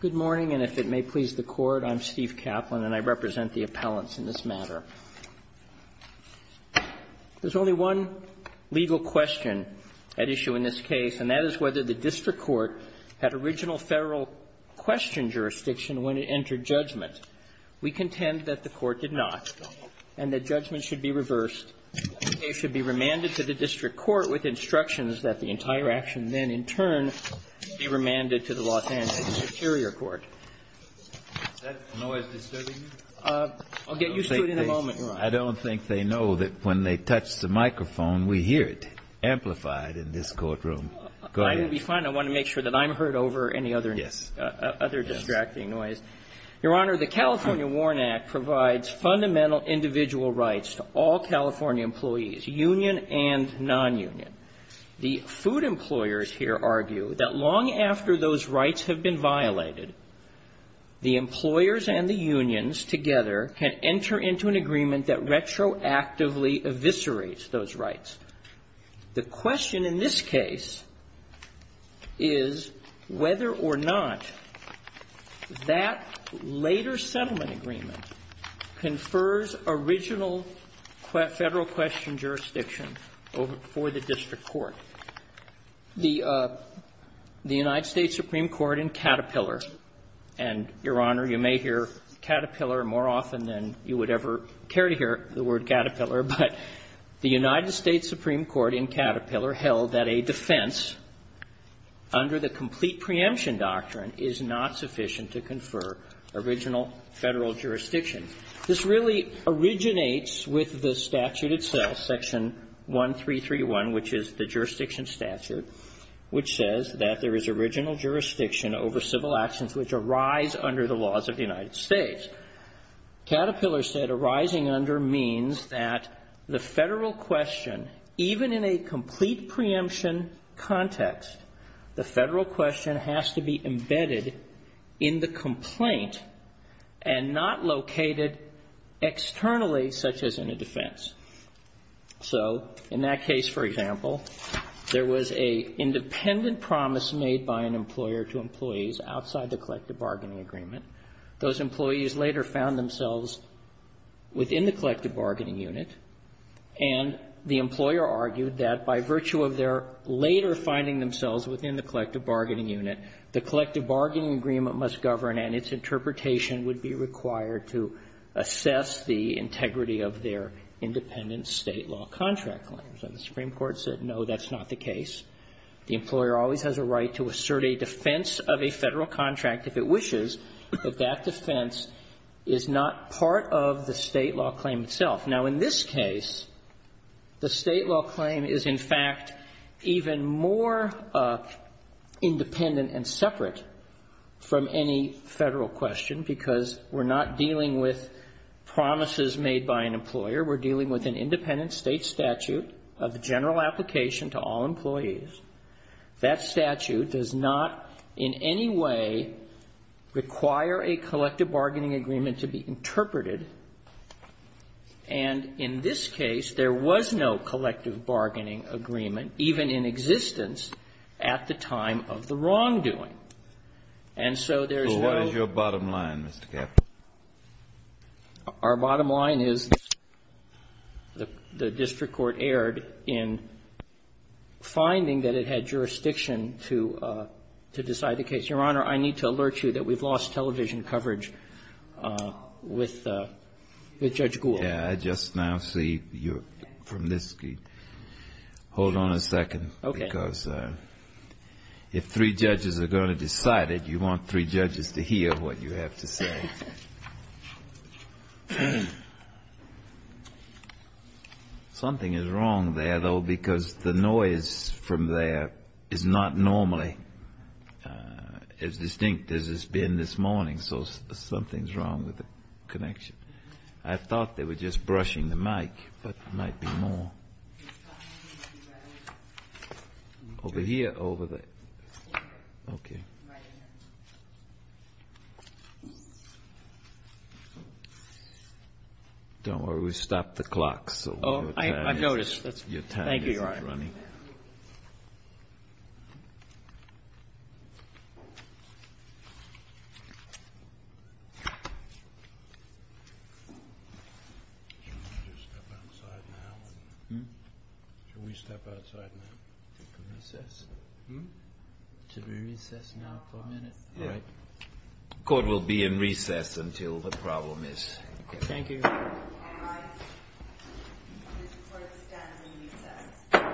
Good morning, and if it may please the Court, I'm Steve Kaplan, and I represent the appellants in this matter. There's only one legal question at issue in this case, and that is whether the District Court had original federal question jurisdiction when it entered judgment. We contend that the Court did not, and that judgment should be reversed. The case should be remanded to the District Court with instructions that the entire action then, in turn, be remanded to the Los Angeles Superior Court. Is that noise disturbing you? I'll get used to it in a moment, Your Honor. I don't think they know that when they touch the microphone, we hear it amplified in this courtroom. Go ahead. I will be fine. I want to make sure that I'm heard over any other distracting noise. Your Honor, the California Warren Act provides fundamental individual rights to all California employees, union and nonunion. The food employers here argue that long after those rights have been violated, the employers and the unions together can enter into an agreement that retroactively eviscerates those rights. The question in this case is whether or not that later settlement agreement confers original federal question jurisdiction for the District Court. The United States Supreme Court in Caterpillar, and, Your Honor, you may hear Caterpillar more often than you would ever care to hear the word Caterpillar, but the United States Supreme Court in Caterpillar held that a defense under the complete preemption doctrine is not sufficient to confer original Federal jurisdiction. This really originates with the statute itself, Section 1331, which is the jurisdiction statute, which says that there is original jurisdiction over civil actions which arise under the laws of the United States. Caterpillar said arising under means that the Federal question, even in a complete preemption context, the Federal question has to be embedded in the complaint and not located externally, such as in a defense. So in that case, for example, there was an independent promise made by an employer to employees outside the collective bargaining agreement. Those employees later found themselves within the collective bargaining unit, and the employer argued that by virtue of their later finding themselves within the collective bargaining unit, the collective bargaining agreement must govern and its interpretation would be required to assess the integrity of their independent State law contract claims. And the Supreme Court said, no, that's not the case. The employer always has a right to assert a defense of a Federal contract if it wishes, but that defense is not part of the State law claim itself. Now, in this case, the State law claim is, in fact, even more independent and separate from any Federal question because we're not dealing with promises made by an employer. We're dealing with an independent State statute of general application to all employees. That statute does not in any way require a collective bargaining agreement to be interpreted. And in this case, there was no collective bargaining agreement, even in existence, at the time of the wrongdoing. The district court erred in finding that it had jurisdiction to decide the case. Your Honor, I need to alert you that we've lost television coverage with Judge Gould. Yeah, I just now see you're from this. Hold on a second. Okay. Because if three judges are going to decide it, you want three judges to hear what you have to say. Okay. Something is wrong there, though, because the noise from there is not normally as distinct as it's been this morning, so something's wrong with the connection. I thought they were just brushing the mic, but there might be more. Over here, over there. Okay. Don't worry, we stopped the clock, so your time isn't running. Oh, I noticed. Thank you, Your Honor. Should we step outside now and take a recess? Hm? Should we recess now for a minute? Yes. All right. Court will be in recess until the problem is solved. Thank you. All right. This court is done in recess. Thank you.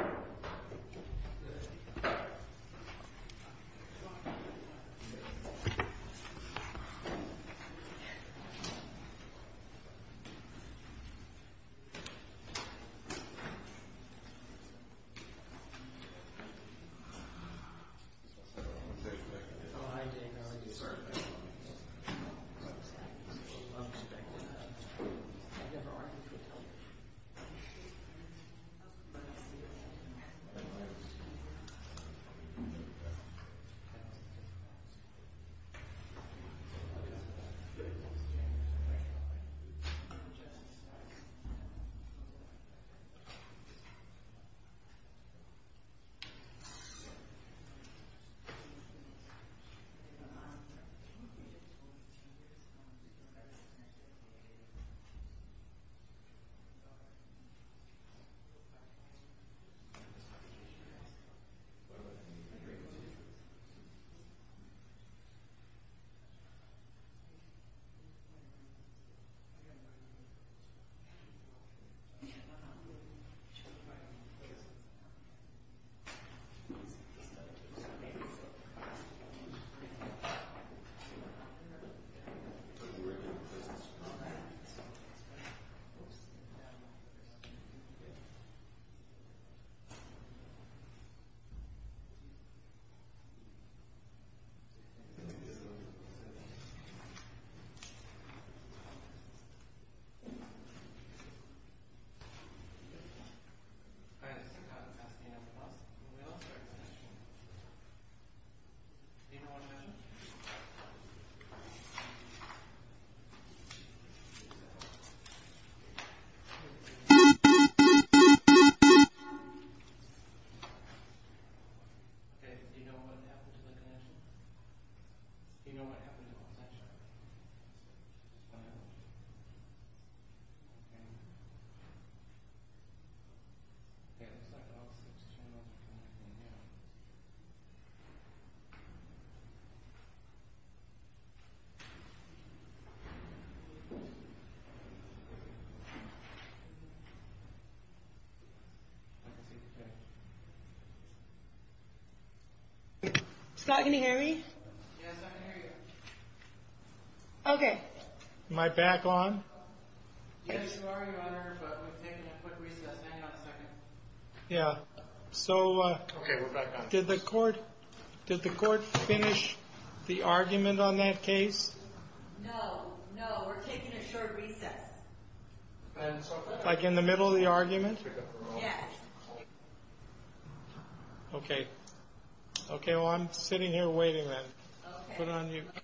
Thank you. Thank you. Thank you. Do you know what happened to the connection? Do you know what happened to the connection? Okay. Scott, can you hear me? Yes, I can hear you. Okay. Am I back on? Yes, you are, Your Honor, but we've taken a quick recess. Hang on a second. Yeah, so did the court finish the argument on that case? No, no, we're taking a short recess. Like in the middle of the argument? Yes. Okay. Okay, well, I'm sitting here waiting then. Okay. Thank you. Thank you. Thank you. Thank you. Thank you. Thank you. Thank you.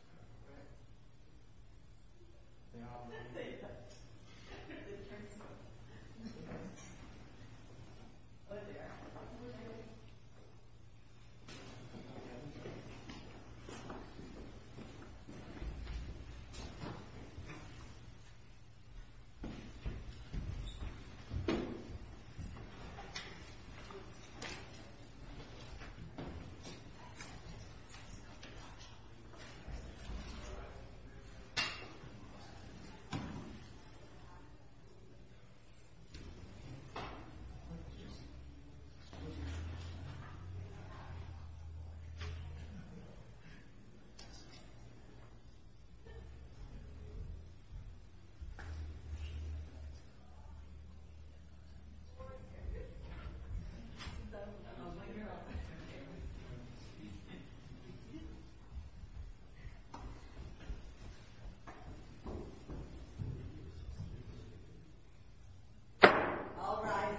All right.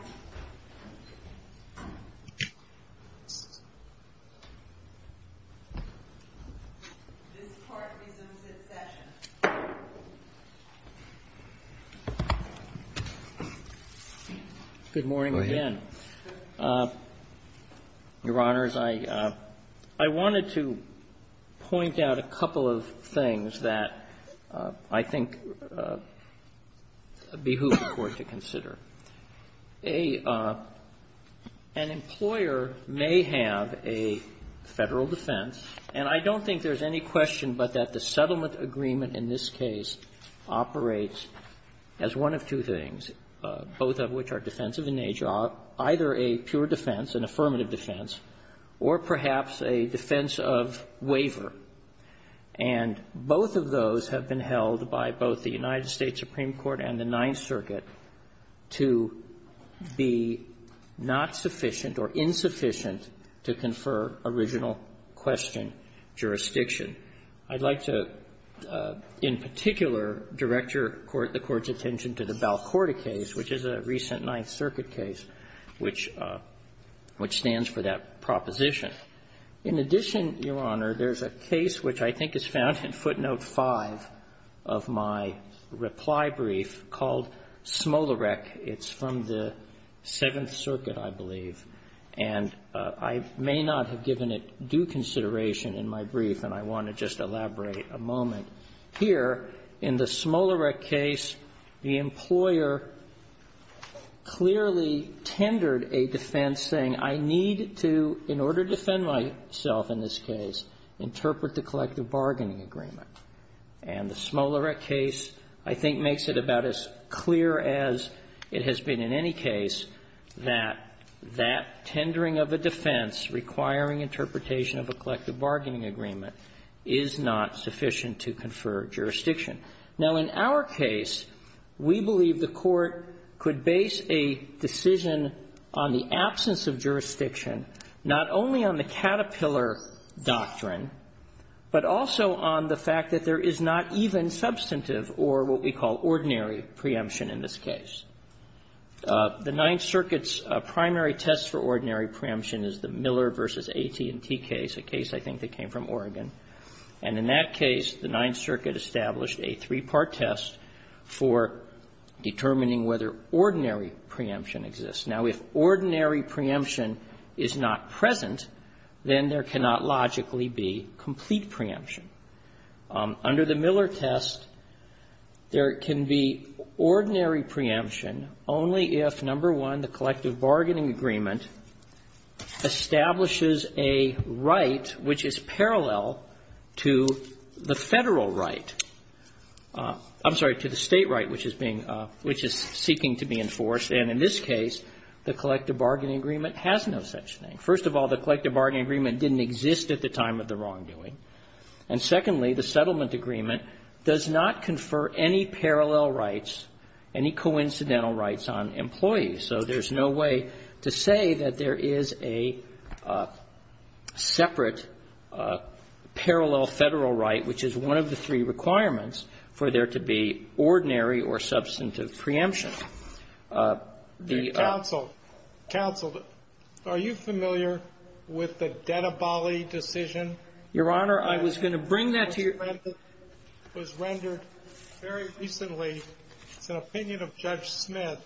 This Court resumes its session. Good morning again. Go ahead. Your Honors, I wanted to point out a couple of things that I think behoove the Court to consider. An employer may have a Federal defense, and I don't think there's any question but that the settlement agreement in this case operates as one of two things, both of which are defensive in nature, either a pure defense, an affirmative defense, or perhaps a defense of waiver. And both of those have been held by both the United States Supreme Court and the Ninth Circuit to be not sufficient or insufficient to confer original question jurisdiction. I'd like to, in particular, direct the Court's attention to the Balcorda case, which is a recent Ninth Circuit case, which stands for that proposition. In addition, Your Honor, there's a case which I think is found in footnote 5 of my reply brief called Smolarek. It's from the Seventh Circuit, I believe. And I may not have given it due consideration in my brief, and I want to just elaborate a moment. Here, in the Smolarek case, the employer clearly tendered a defense saying, I need to, in order to defend myself in this case, interpret the collective bargaining agreement. And the Smolarek case, I think, makes it about as clear as it has been in any case that that tendering of a defense requiring interpretation of a collective bargaining agreement is not sufficient to confer jurisdiction. Now, in our case, we believe the Court could base a decision on the absence of jurisdiction not only on the Caterpillar doctrine, but also on the fact that there is not even substantive or what we call ordinary preemption in this case. The Ninth Circuit's primary test for ordinary preemption is the Miller v. AT&T case, a case I think that came from Oregon. And in that case, the Ninth Circuit established a three-part test for determining whether ordinary preemption exists. Now, if ordinary preemption is not present, then there cannot logically be complete preemption. Under the Miller test, there can be ordinary preemption only if, number one, the collective bargaining agreement exists at the time of the wrongdoing, and, secondly, the settlement agreement does not confer any parallel rights, any coincidental rights on employees. So there's no way to say that there is a separate parallel right to the federal right, which is one of the three requirements for there to be ordinary or substantive preemption. The ---- Counsel. Counsel, are you familiar with the Dedabali decision? Your Honor, I was going to bring that to your ---- It was rendered very recently. It's an opinion of Judge Smith.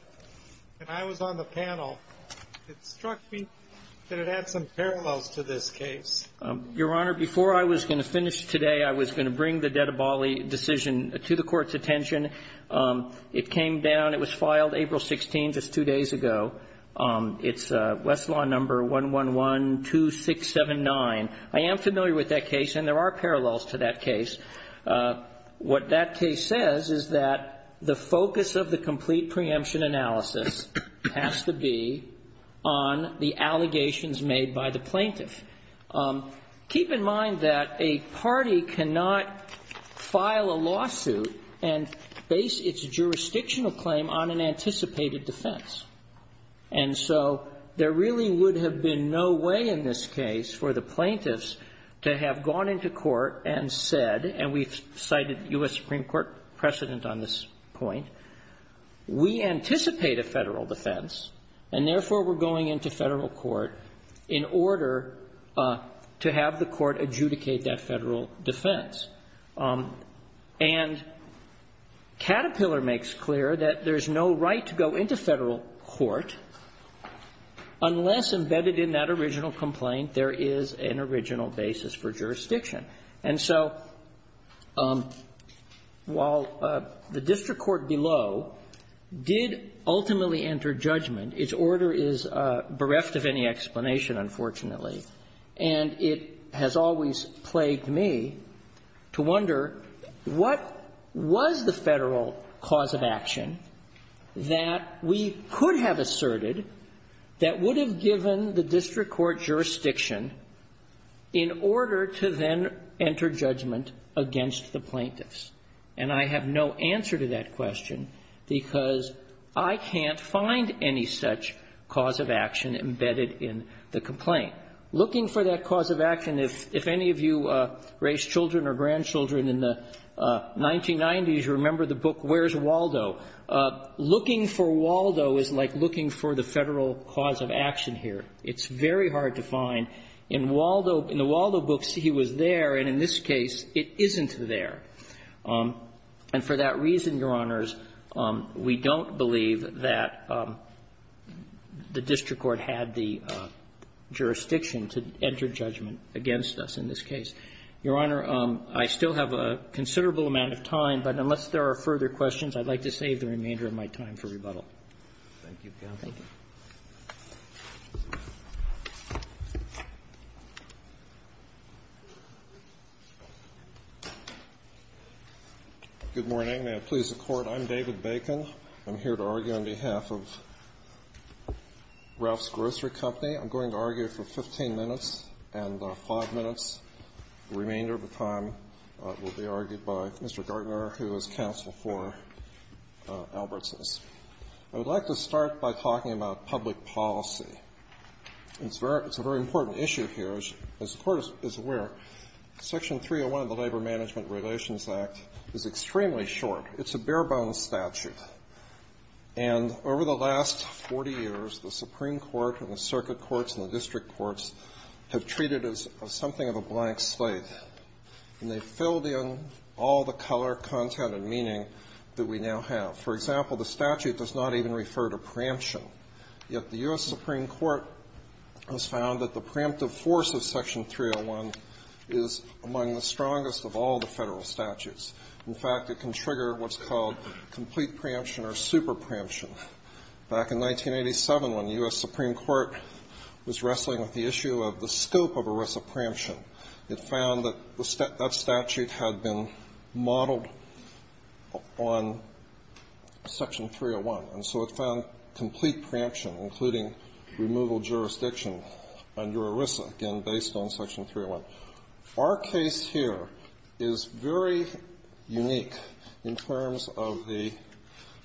And I was on the panel. It struck me that it had some parallels to this case. Your Honor, before I was going to finish today, I was going to bring the Dedabali decision to the Court's attention. It came down. It was filed April 16th, just two days ago. It's Westlaw number 1112679. I am familiar with that case, and there are parallels to that case. What that case says is that the focus of the complete preemption analysis has to be on the allegations made by the plaintiff. Keep in mind that a party cannot file a lawsuit and base its jurisdictional claim on an anticipated defense. And so there really would have been no way in this case for the plaintiffs to have gone into court and said, and we've cited U.S. Supreme Court precedent on this point, we anticipate a Federal defense, and therefore we're going into Federal court in order to have the court adjudicate that Federal defense. And Caterpillar makes clear that there's no right to go into Federal court unless embedded in that original complaint there is an original basis for jurisdiction. And so while the district court below did ultimately enter judgment, its order is bereft of any explanation, unfortunately, and it has always plagued me to wonder, what was the Federal cause of action that we could have asserted that would have given the district court jurisdiction in order to then enter judgment against the plaintiffs? And I have no answer to that question because I can't find any such cause of action embedded in the complaint. Looking for that cause of action, if any of you raised children or grandchildren in the 1990s, you remember the book Where's Waldo? Looking for Waldo is like looking for the Federal cause of action here. It's very hard to find. In Waldo, in the Waldo books, he was there, and in this case, it isn't there. And for that reason, Your Honors, we don't believe that the district court had the jurisdiction to enter judgment against us in this case. Your Honor, I still have a considerable amount of time, but unless there are further questions, I'd like to save the remainder of my time for rebuttal. Thank you, counsel. Thank you. Good morning, and may it please the Court. I'm David Bacon. I'm here to argue on behalf of Ralph's Grocery Company. I'm going to argue for 15 minutes and 5 minutes. The remainder of the time will be argued by Mr. Gardner, who is counsel for Albertson's. I would like to start by talking about public policy. It's a very important issue here. As the Court is aware, Section 301 of the Labor Management Relations Act is extremely short. It's a bare-bones statute. And over the last 40 years, the Supreme Court and the circuit courts and the district courts have treated it as something of a blank slate, and they've filled in all the color, content, and meaning that we now have. For example, the statute does not even refer to preemption, yet the U.S. Supreme Court has found that the preemptive force of Section 301 is among the strongest of all the Federal statutes. In fact, it can trigger what's called complete preemption or super preemption. Back in 1987, when the U.S. Supreme Court was wrestling with the issue of the scope of arrest of preemption, it found that the statute had been modeled on Section 301. And so it found complete preemption, including removal jurisdiction under ERISA, again, based on Section 301. Our case here is very unique in terms of the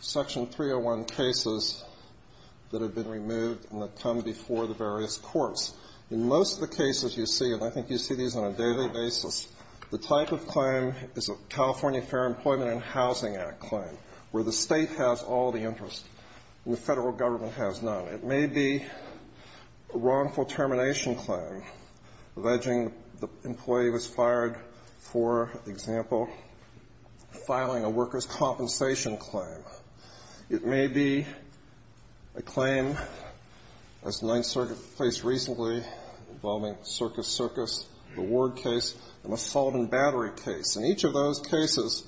Section 301 cases that have been removed and that come before the various courts. In most of the cases you see, and I think you see these on a daily basis, the type of claim is a California Fair Employment and Housing Act claim, where the State has all the interest and the Federal Government has none. It may be a wrongful termination claim, alleging the employee was fired for, example, filing a worker's compensation claim. It may be a claim, as the Ninth Circuit placed recently, involving Circus Circus, the Ward case, an assault and battery case. In each of those cases,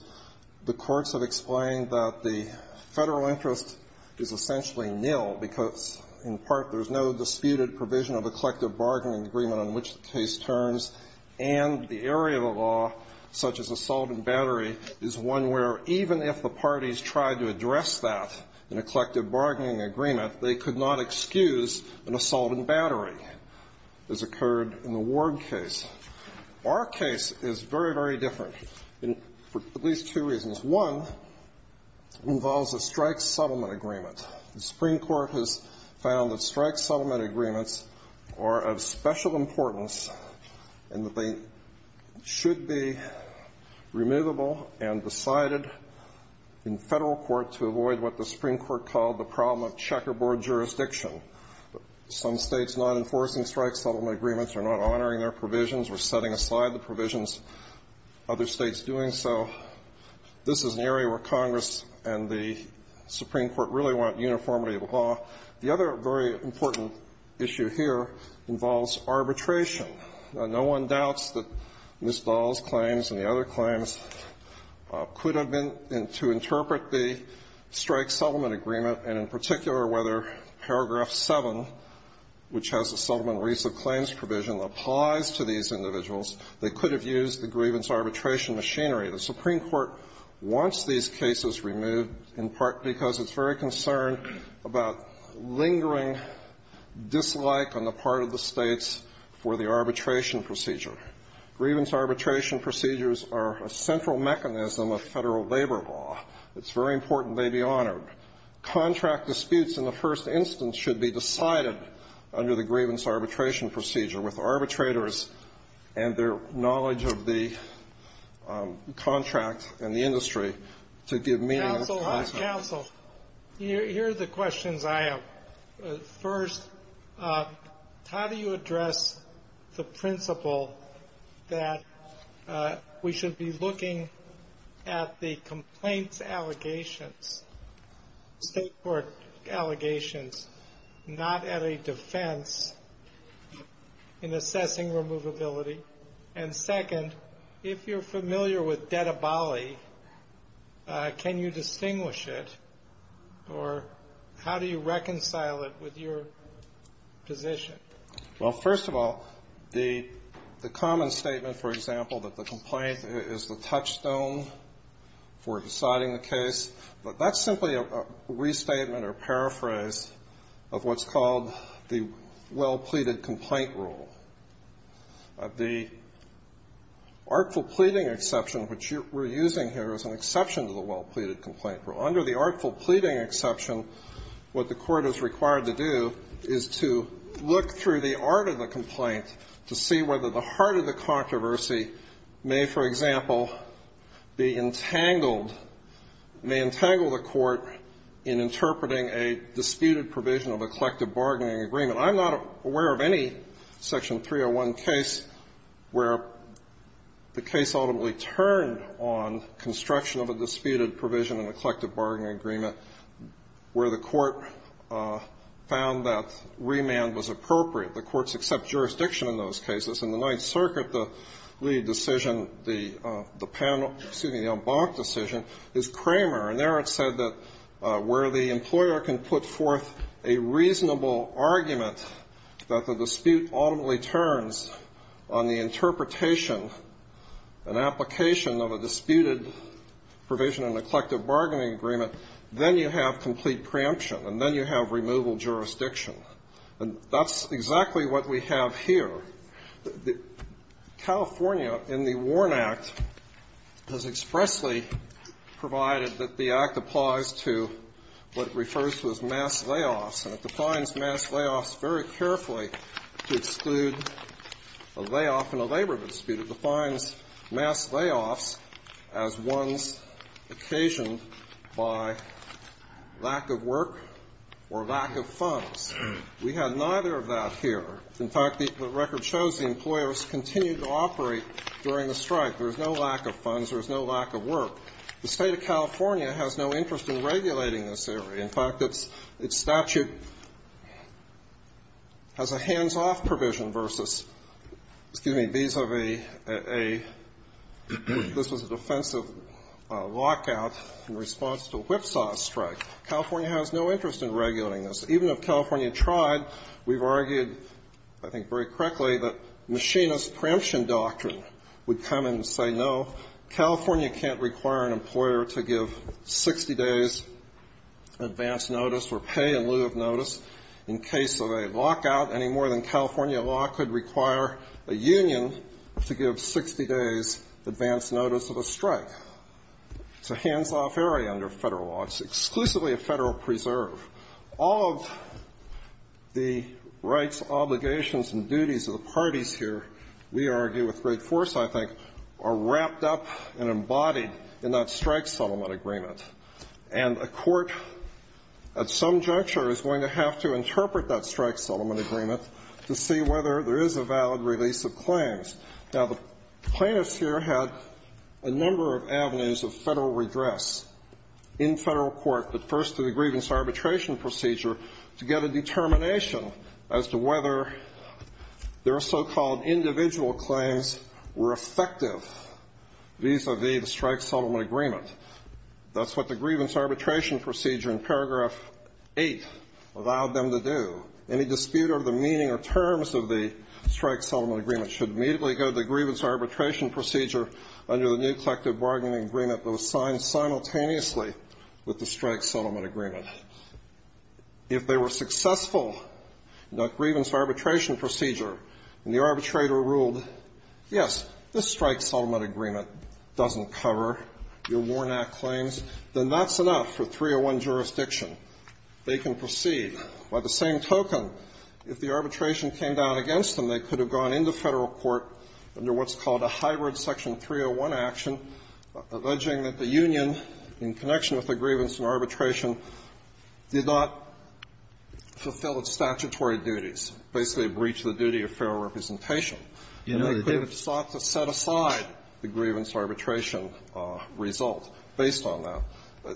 the courts have explained that the Federal interest is essentially nil because, in part, there's no disputed provision of a collective bargaining agreement on which the case turns, and the area of the law, such as assault and battery, is one where even if the parties tried to address that in a collective bargaining agreement, they could not excuse an assault and battery as occurred in the Ward case. Our case is very, very different for at least two reasons. One involves a strike settlement agreement. The Supreme Court has found that strike settlement agreements are of special importance and that they should be removable and decided in Federal court to avoid what the Supreme Court called the problem of checkerboard jurisdiction. Some States not enforcing strike settlement agreements are not honoring their provisions or setting aside the provisions other States doing so. This is an area where Congress and the Supreme Court really want uniformity of the law. The other very important issue here involves arbitration. No one doubts that Ms. Dahl's claims and the other claims could have been to interpret the strike settlement agreement, and in particular whether paragraph 7, which has a settlement release of claims provision, applies to these individuals. They could have used the grievance arbitration machinery. The Supreme Court wants these cases removed in part because it's very concerned about lingering dislike on the part of the States for the arbitration procedure. Grievance arbitration procedures are a central mechanism of Federal labor law. It's very important they be honored. Contract disputes in the first instance should be decided under the grievance arbitration procedure with arbitrators and their knowledge of the contract and the industry to give meaning to the contract. Counsel, here are the questions I have. First, how do you address the principle that we should be looking at the complaints allegations, State court allegations, not at a defense in assessing removability? And second, if you're familiar with Dettabali, can you distinguish it, or how do you reconcile it with your position? Well, first of all, the common statement, for example, that the complaint is the touchstone for what's called the well-pleaded complaint rule. The artful pleading exception, which we're using here, is an exception to the well-pleaded complaint rule. Under the artful pleading exception, what the Court is required to do is to look through the art of the complaint to see whether the heart of the controversy may, for example, be entangled, may entangle the Court in interpreting a disputed provision of a collective bargaining agreement. I'm not aware of any Section 301 case where the case ultimately turned on construction of a disputed provision in a collective bargaining agreement where the Court found that remand was appropriate. The courts accept jurisdiction in those cases. In the Ninth Circuit, the lead decision, the panel, excuse me, the en banc decision, is Cramer. And there it said that where the employer can put forth a reasonable argument that the dispute ultimately turns on the interpretation and application of a disputed provision in a collective bargaining agreement, then you have complete preemption, and then you have removal jurisdiction. And that's exactly what we have here. The California, in the Warren Act, has expressly provided that the Act applies to what refers to as mass layoffs, and it defines mass layoffs very carefully to exclude a layoff in a labor dispute. It defines mass layoffs as ones occasioned by lack of work or lack of funds. We have neither of that here. In fact, the record shows the employers continue to operate during the strike. There is no lack of funds. There is no lack of work. The State of California has no interest in regulating this area. In fact, its statute has a hands-off provision versus, excuse me, vis-a-vis a, this was a defensive lockout in response to a whipsaw strike. California has no interest in regulating this. Even if California tried, we've argued, I think very correctly, that machinist preemption doctrine would come in and say, no, California can't require an employer to give 60 days advance notice or pay in lieu of notice in case of a lockout, any more than California law could require a union to give 60 days advance notice of a strike. It's a hands-off area under Federal law. It's exclusively a Federal preserve. All of the rights, obligations and duties of the parties here, we argue with great force, I think, are wrapped up and embodied in that strike settlement agreement. And a court at some juncture is going to have to interpret that strike settlement agreement to see whether there is a valid release of claims. Now, the plaintiffs here had a number of avenues of Federal redress in Federal court, but first to the grievance arbitration procedure to get a determination as to whether their so-called individual claims were effective vis-a-vis the strike settlement agreement. That's what the grievance arbitration procedure in paragraph 8 allowed them to do. Any dispute over the meaning or terms of the strike settlement agreement should immediately go to the grievance arbitration procedure under the new section 301, the grievance arbitration procedure. And the arbitrator ruled, yes, this strike settlement agreement doesn't cover your Warnock claims, then that's enough for 301 jurisdiction. They can proceed. By the same token, if the arbitration came down against them, they could have gone into Federal court under what's called a hybrid section 301 action, alleging that the union, in connection with the grievance and arbitration, did not fulfill its statutory duties, basically breach the duty of fair representation. And they could have sought to set aside the grievance arbitration result based on that.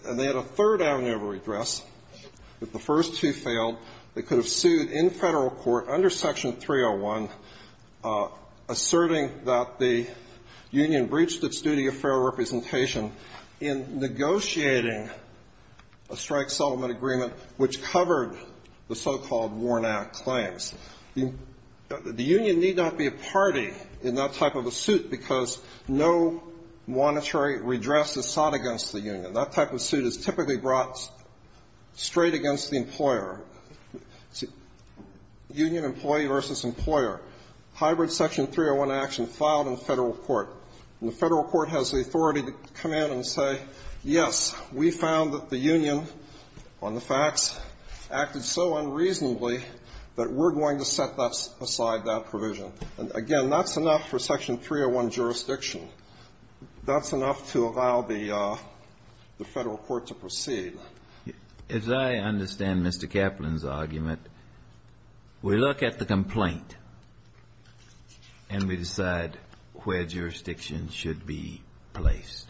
And they had a third avenue of redress, but the first two failed. They could have sued in Federal court under section 301, asserting that the union breached its duty of fair representation in negotiating a strike settlement agreement which covered the so-called Warnock claims. The union need not be a party in that type of a suit because no monetary redress is sought against the union. That type of suit is typically brought straight against the employer. Union employee versus employer. Hybrid section 301 action filed in Federal court. And the Federal court has the authority to come out and say, yes, we found that the union on the facts acted so unreasonably that we're going to set aside that provision. And, again, that's enough for section 301 jurisdiction. That's enough to allow the Federal court to proceed. As I understand Mr. Kaplan's argument, we look at the complaint and we decide where jurisdiction should be placed.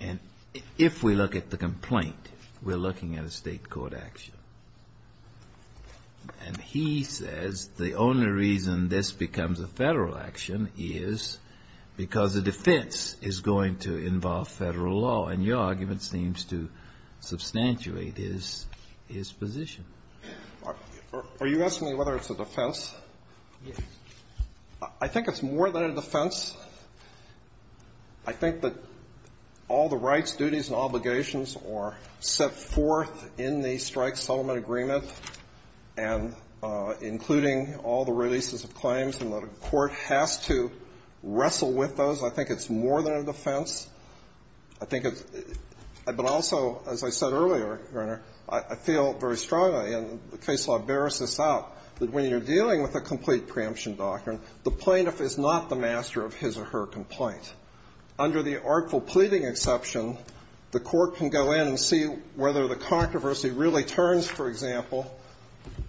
And if we look at the complaint, we're looking at a State court action. And he says the only reason this becomes a Federal action is because the defense is going to involve Federal law. And your argument seems to substantiate his position. Are you asking me whether it's a defense? Yes. I think it's more than a defense. I think that all the rights, duties, and obligations are set forth in the strike settlement agreement, and including all the releases of claims, and the court has to make a decision whether it's a defense. But also, as I said earlier, Your Honor, I feel very strongly, and the case law bears this out, that when you're dealing with a complete preemption doctrine, the plaintiff is not the master of his or her complaint. Under the artful pleading exception, the court can go in and see whether the controversy really turns, for example,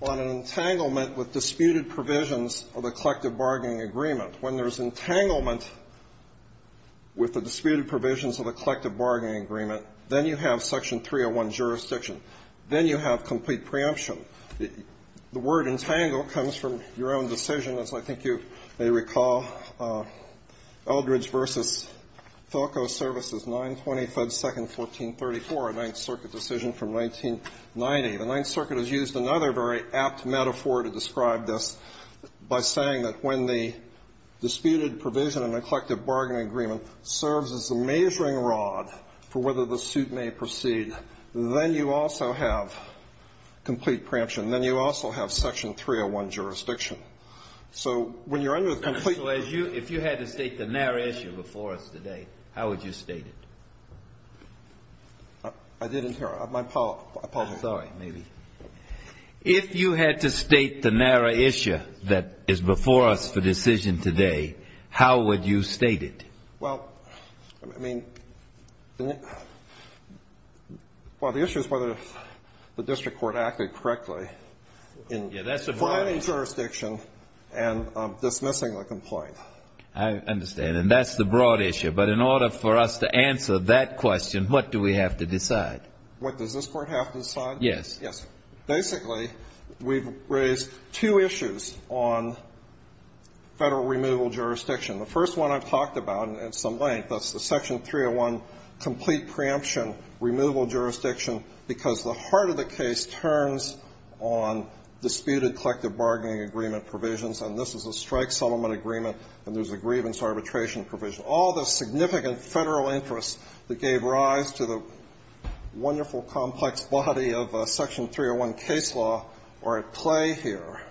on an entanglement with disputed provisions of the collective bargaining agreement. When there's entanglement with the disputed provisions of the collective bargaining agreement, then you have Section 301 jurisdiction. Then you have complete preemption. The word entangle comes from your own decision, as I think you may recall, Eldridge v. Philco Services, 9252nd, 1434, a Ninth Circuit decision from 1990. The Ninth Circuit has used another very apt metaphor to describe this by saying that when the disputed provision in the collective bargaining agreement serves as the measuring rod for whether the suit may proceed, then you also have complete preemption, and then you also have Section 301 jurisdiction. So when you're under the complete ---- So if you had to state the narrow issue before us today, how would you state it? I didn't hear. My apologies. Sorry. Maybe. If you had to state the narrow issue that is before us for decision today, how would you state it? Well, I mean, well, the issue is whether the district court acted correctly in filing jurisdiction and dismissing the complaint. I understand. And that's the broad issue. But in order for us to answer that question, what do we have to decide? What does this Court have to decide? Yes. Yes. Basically, we've raised two issues on Federal removal jurisdiction. The first one I've talked about at some length, that's the Section 301 complete preemption removal jurisdiction, because the heart of the case turns on disputed collective bargaining agreement provisions, and this is a strike settlement agreement, and there's a grievance arbitration provision. All the significant Federal interests that gave rise to the wonderful complex body of Section 301 case law are at play here.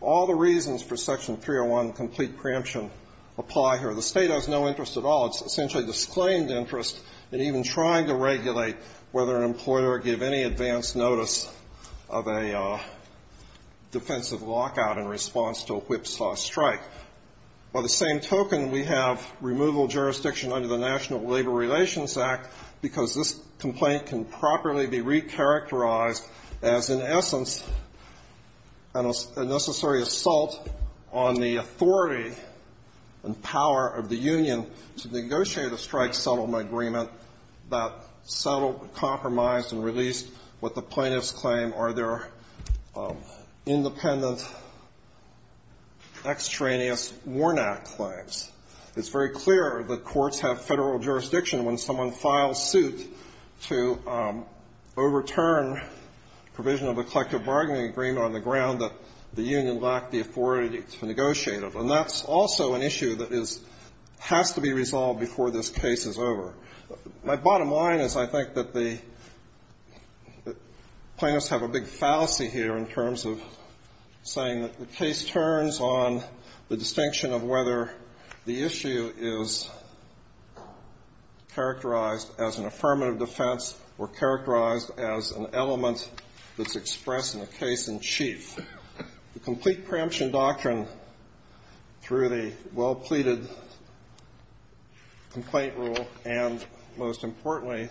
All the reasons for Section 301 complete preemption apply here. The State has no interest at all. It's essentially disclaimed interest in even trying to regulate whether an employer give any advance notice of a defensive lockout in response to a whipsaw strike. By the same token, we have removal jurisdiction under the National Labor Relations Act because this complaint can properly be recharacterized as, in essence, a necessary assault on the authority and power of the union to negotiate a strike settlement agreement that settled, compromised, and released what the plaintiffs claim are their independent extraneous Warnock claims. It's very clear that courts have Federal jurisdiction when someone files suit to overturn provision of a collective bargaining agreement on the ground that the union lacked the authority to negotiate it. And that's also an issue that has to be resolved before this case is over. My bottom line is I think that the plaintiffs have a big fallacy here in terms of saying that the case turns on the distinction of whether the issue is characterized as an affirmative defense or characterized as an element that's expressed in a case in chief. The complete preemption doctrine through the well-pleaded complaint rule and, most importantly,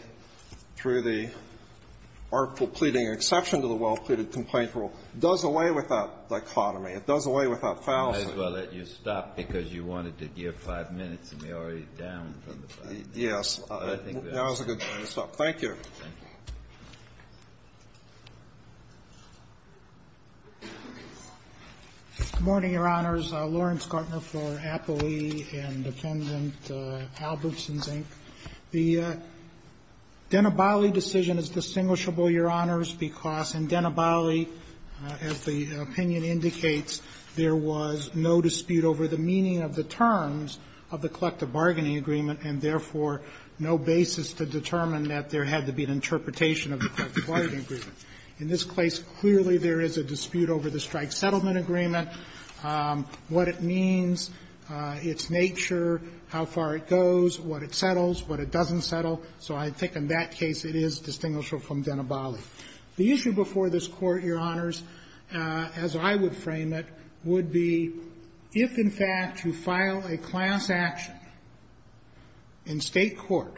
through the artful pleading exception to the well-pleaded complaint rule does away with that dichotomy. It does away with that fallacy. Kennedy. I might as well let you stop, because you wanted to give five minutes, and we're already down from the five minutes. Yes. I think that was a good time to stop. Thank you. Thank you. Good morning, Your Honors. Lawrence Gartner for Appley and Defendant Albertson, Inc. The Denabali decision is distinguishable, Your Honors, because in Denabali, as the opinion indicates, there was no dispute over the meaning of the terms of the collective bargaining agreement and, therefore, no basis to determine that there had to be an interpretation of the collective bargaining agreement. In this case, clearly there is a dispute over the strike settlement agreement, what it means, its nature, how far it goes, what it settles, what it doesn't settle. So I think in that case it is distinguishable from Denabali. The issue before this Court, Your Honors, as I would frame it, would be if, in fact, you file a class action in State court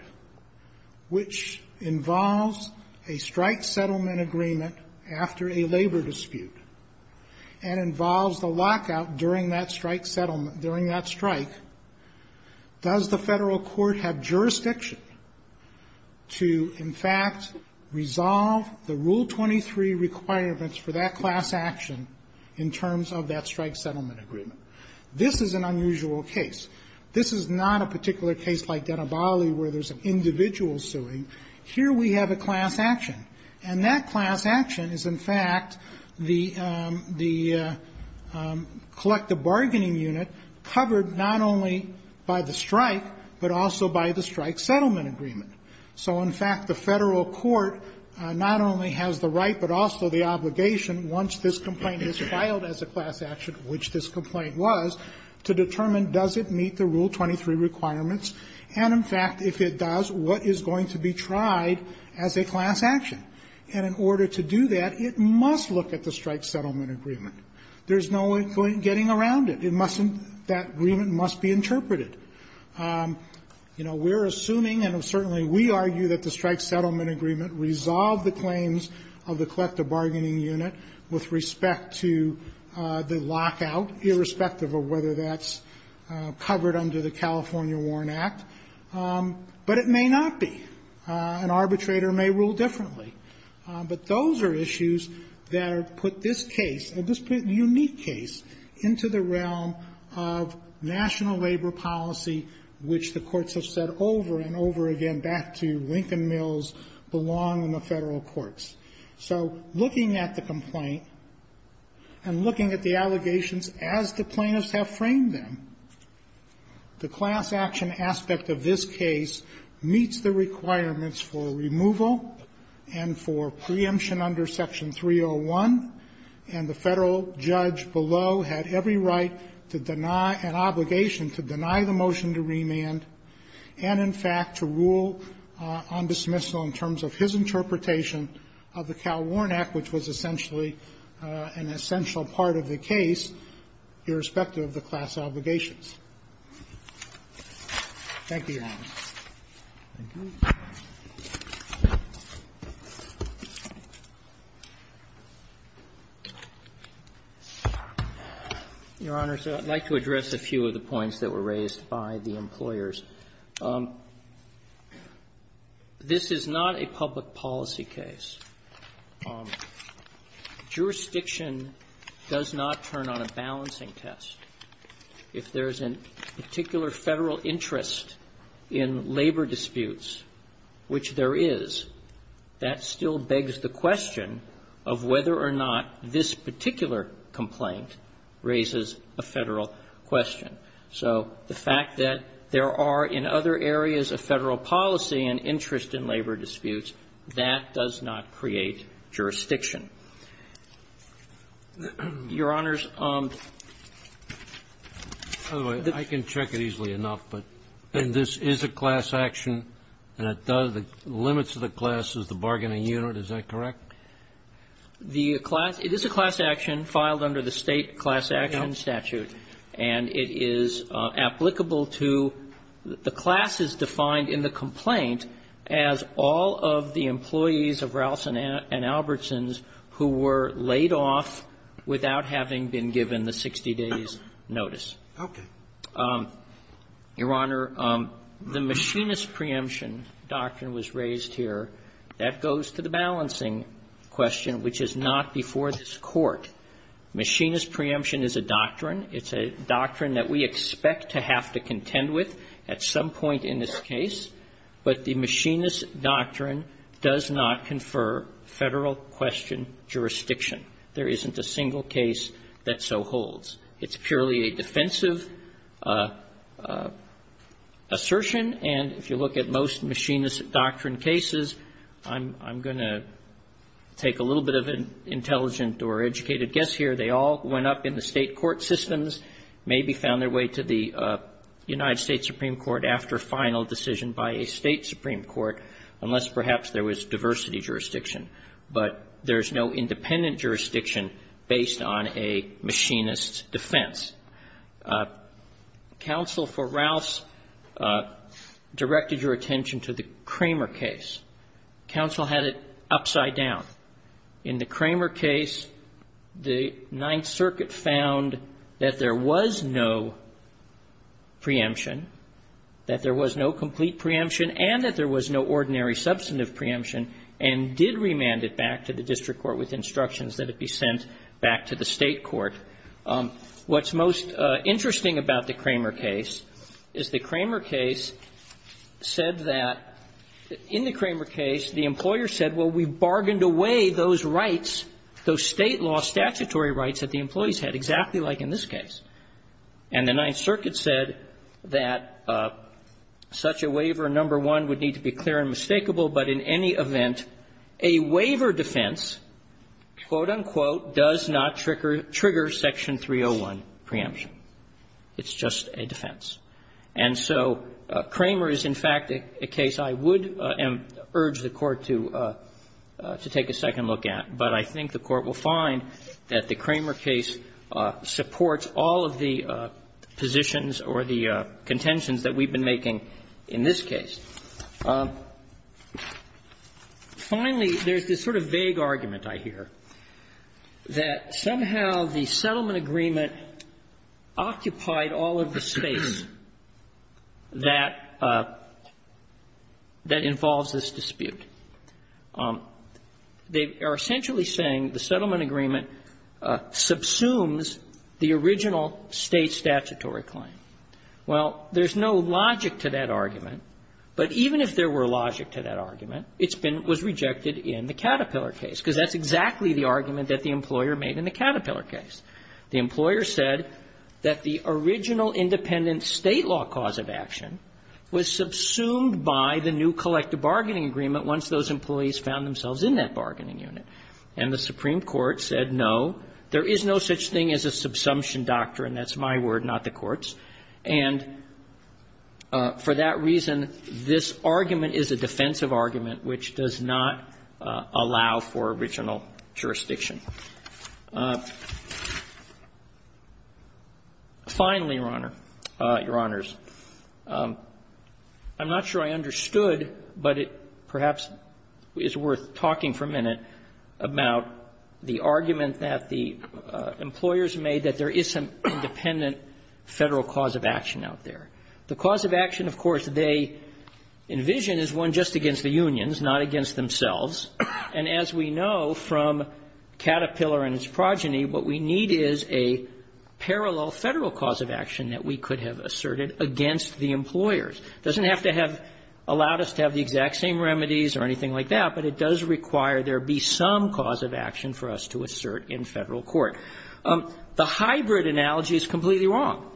which involves a strike settlement agreement after a labor dispute and involves the lockout during that strike settlement during that strike, does the Federal court have jurisdiction to, in fact, resolve the Rule 23 requirements for that class action in terms of that strike settlement agreement? This is an unusual case. This is not a particular case like Denabali where there's an individual suing. Here we have a class action. And that class action is, in fact, the collective bargaining unit covered not only by the strike but also by the strike settlement agreement. So, in fact, the Federal court not only has the right but also the obligation once this complaint is filed as a class action, which this complaint was, to determine does it meet the Rule 23 requirements. And, in fact, if it does, what is going to be tried as a class action? And in order to do that, it must look at the strike settlement agreement. There's no getting around it. It mustn't. That agreement must be interpreted. You know, we're assuming and certainly we argue that the strike settlement agreement resolved the claims of the collective bargaining unit with respect to the Warren Act. But it may not be. An arbitrator may rule differently. But those are issues that put this case, this unique case, into the realm of national labor policy, which the courts have said over and over again, back to Lincoln Mills, belong in the Federal courts. So looking at the complaint and looking at the allegations as the plaintiffs have framed them, the class action aspect of this case meets the requirements for removal and for preemption under Section 301. And the Federal judge below had every right to deny, an obligation to deny the motion to remand and, in fact, to rule on dismissal in terms of his interpretation of the Cal Warren Act, which was essentially an essential part of the case, irrespective of the class obligations. Thank you, Your Honor. Roberts. Your Honor, I'd like to address a few of the points that were raised by the employers. This is not a public policy case. Jurisdiction does not turn on a balancing test. If there's a particular Federal interest in labor disputes, which there is, that still begs the question of whether or not this particular complaint raises a Federal question. So the fact that there are, in other areas of Federal policy, an interest in labor disputes, that does not create jurisdiction. Your Honors, the ---- Kennedy. I can check it easily enough, but then this is a class action, and it does the limits of the class as the bargaining unit, is that correct? The class ---- it is a class action filed under the State class action statute. And it is applicable to the class is defined in the complaint as all of the employees of Rouse and Albertson's who were laid off without having been given the 60-days notice. Your Honor, the machinist preemption doctrine was raised here. That goes to the balancing question, which is not before this Court. Machinist preemption is a doctrine. It's a doctrine that we expect to have to contend with at some point in this case, but the machinist doctrine does not confer Federal question jurisdiction. There isn't a single case that so holds. It's purely a defensive assertion, and if you look at most machinist doctrine cases, I'm going to take a little bit of an intelligent or educated guess here. They all went up in the State court systems, maybe found their way to the United States Supreme Court after final decision by a State supreme court, unless perhaps there was diversity jurisdiction, but there's no independent jurisdiction based on a machinist defense. Counsel for Rouse directed your attention to the Kramer case. Counsel had it upside down. In the Kramer case, the Ninth Circuit found that there was no preemption. That there was no complete preemption, and that there was no ordinary substantive preemption, and did remand it back to the district court with instructions that it be sent back to the State court. What's most interesting about the Kramer case is the Kramer case said that the Kramer case, the employer said, well, we bargained away those rights, those State law statutory rights that the employees had, exactly like in this case. And the Ninth Circuit said that such a waiver, number one, would need to be clear and mistakable, but in any event, a waiver defense, quote, unquote, does not trigger Section 301 preemption. It's just a defense. And so Kramer is, in fact, a case I would urge the Court to take a second look at, but I think the Court will find that the Kramer case supports all of the positions or the contentions that we've been making in this case. Finally, there's this sort of vague argument, I hear, that somehow the settlement agreement occupied all of the space that involves this dispute. They are essentially saying the settlement agreement subsumes the original State statutory claim. Well, there's no logic to that argument, but even if there were logic to that argument, it's been rejected in the Caterpillar case, because that's exactly the argument that the employer made in the Caterpillar case. The employer said that the original independent State law cause of action was subsumed by the new collective bargaining agreement once those employees found themselves in that bargaining unit. And the Supreme Court said, no, there is no such thing as a subsumption doctrine. That's my word, not the Court's. And for that reason, this argument is a defensive argument which does not allow for original jurisdiction. Finally, Your Honor, Your Honors, I'm not sure I understood, but it perhaps is worth talking for a minute about the argument that the employers made that there is some independent Federal cause of action out there. The cause of action, of course, they envision as one just against the unions, not against themselves. And as we know from Caterpillar and its progeny, what we need is a parallel Federal cause of action that we could have asserted against the employers. It doesn't have to have allowed us to have the exact same remedies or anything like that, but it does require there be some cause of action for us to assert in Federal court. The hybrid analogy is completely wrong.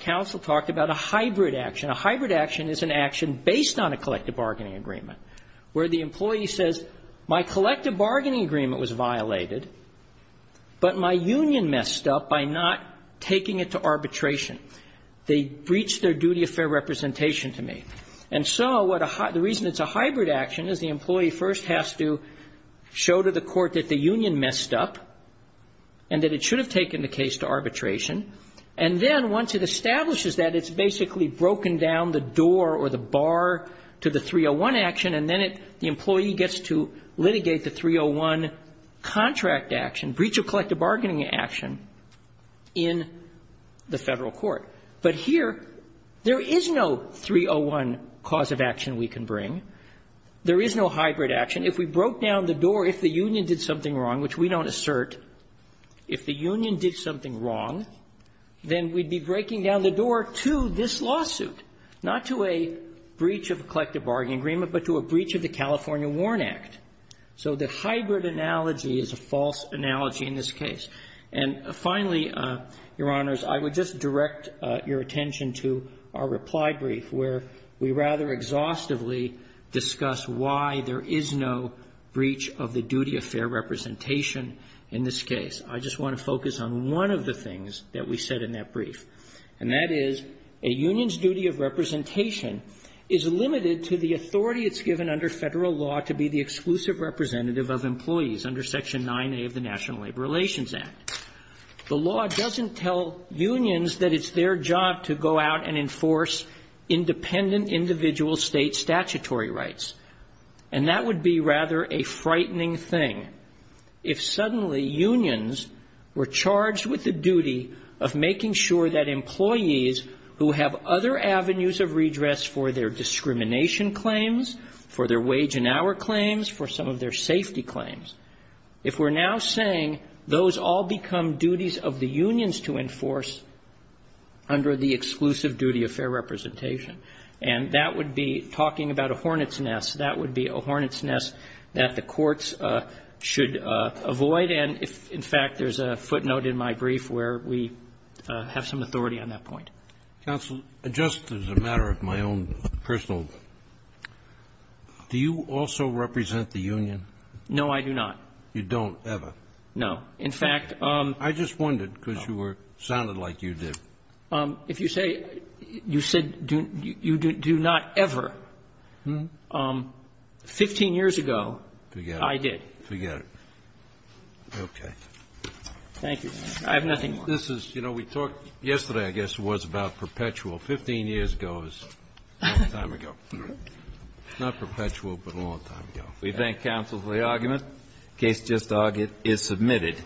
Counsel talked about a hybrid action. A hybrid action is an action based on a collective bargaining agreement, where the employee says, my collective bargaining agreement was violated, but my union messed up by not taking it to arbitration. They breached their duty of fair representation to me. And so what a hybrid action is, the employee first has to show to the court that the union messed up and that it should have taken the case to arbitration, and then once it establishes that, it's basically broken down the door or the bar to the 301 action, and then it the employee gets to litigate the 301 contract action, breach of collective bargaining action in the Federal court. But here, there is no 301 cause of action we can bring. There is no hybrid action. If we broke down the door, if the union did something wrong, which we don't assert, if the union did something wrong, then we'd be breaking down the door to this lawsuit, not to a breach of a collective bargaining agreement, but to a breach of the California Warren Act. So the hybrid analogy is a false analogy in this case. And finally, Your Honors, I would just direct your attention to our reply brief, where we rather exhaustively discuss why there is no breach of the duty of fair representation in this case. I just want to focus on one of the things that we said in that brief, and that is, a union's duty of representation is limited to the authority it's given under Federal law to be the exclusive representative of employees under Section 9A of the National Labor Relations Act. The law doesn't tell unions that it's their job to go out and enforce independent individual state statutory rights. And that would be rather a frightening thing if suddenly unions were charged with the duty of making sure that employees who have other avenues of redress for their discrimination claims, for their wage and hour claims, for some of their safety claims, if we're now saying those all become duties of the unions to enforce under the exclusive duty of fair representation, and that would be talking about a hornet's nest. That would be a hornet's nest that the courts should avoid. And in fact, there's a footnote in my brief where we have some authority on that point. Kennedy. Counsel, just as a matter of my own personal, do you also represent the union? No, I do not. You don't ever? No. In fact, I just wondered, because you were sounding like you did. If you say you said you do not ever, 15 years ago, I did. Forget it. Okay. Thank you. I have nothing more. This is, you know, we talked yesterday, I guess it was, about perpetual. 15 years ago is a long time ago. Not perpetual, but a long time ago. We thank counsel for the argument. Case just argued is submitted.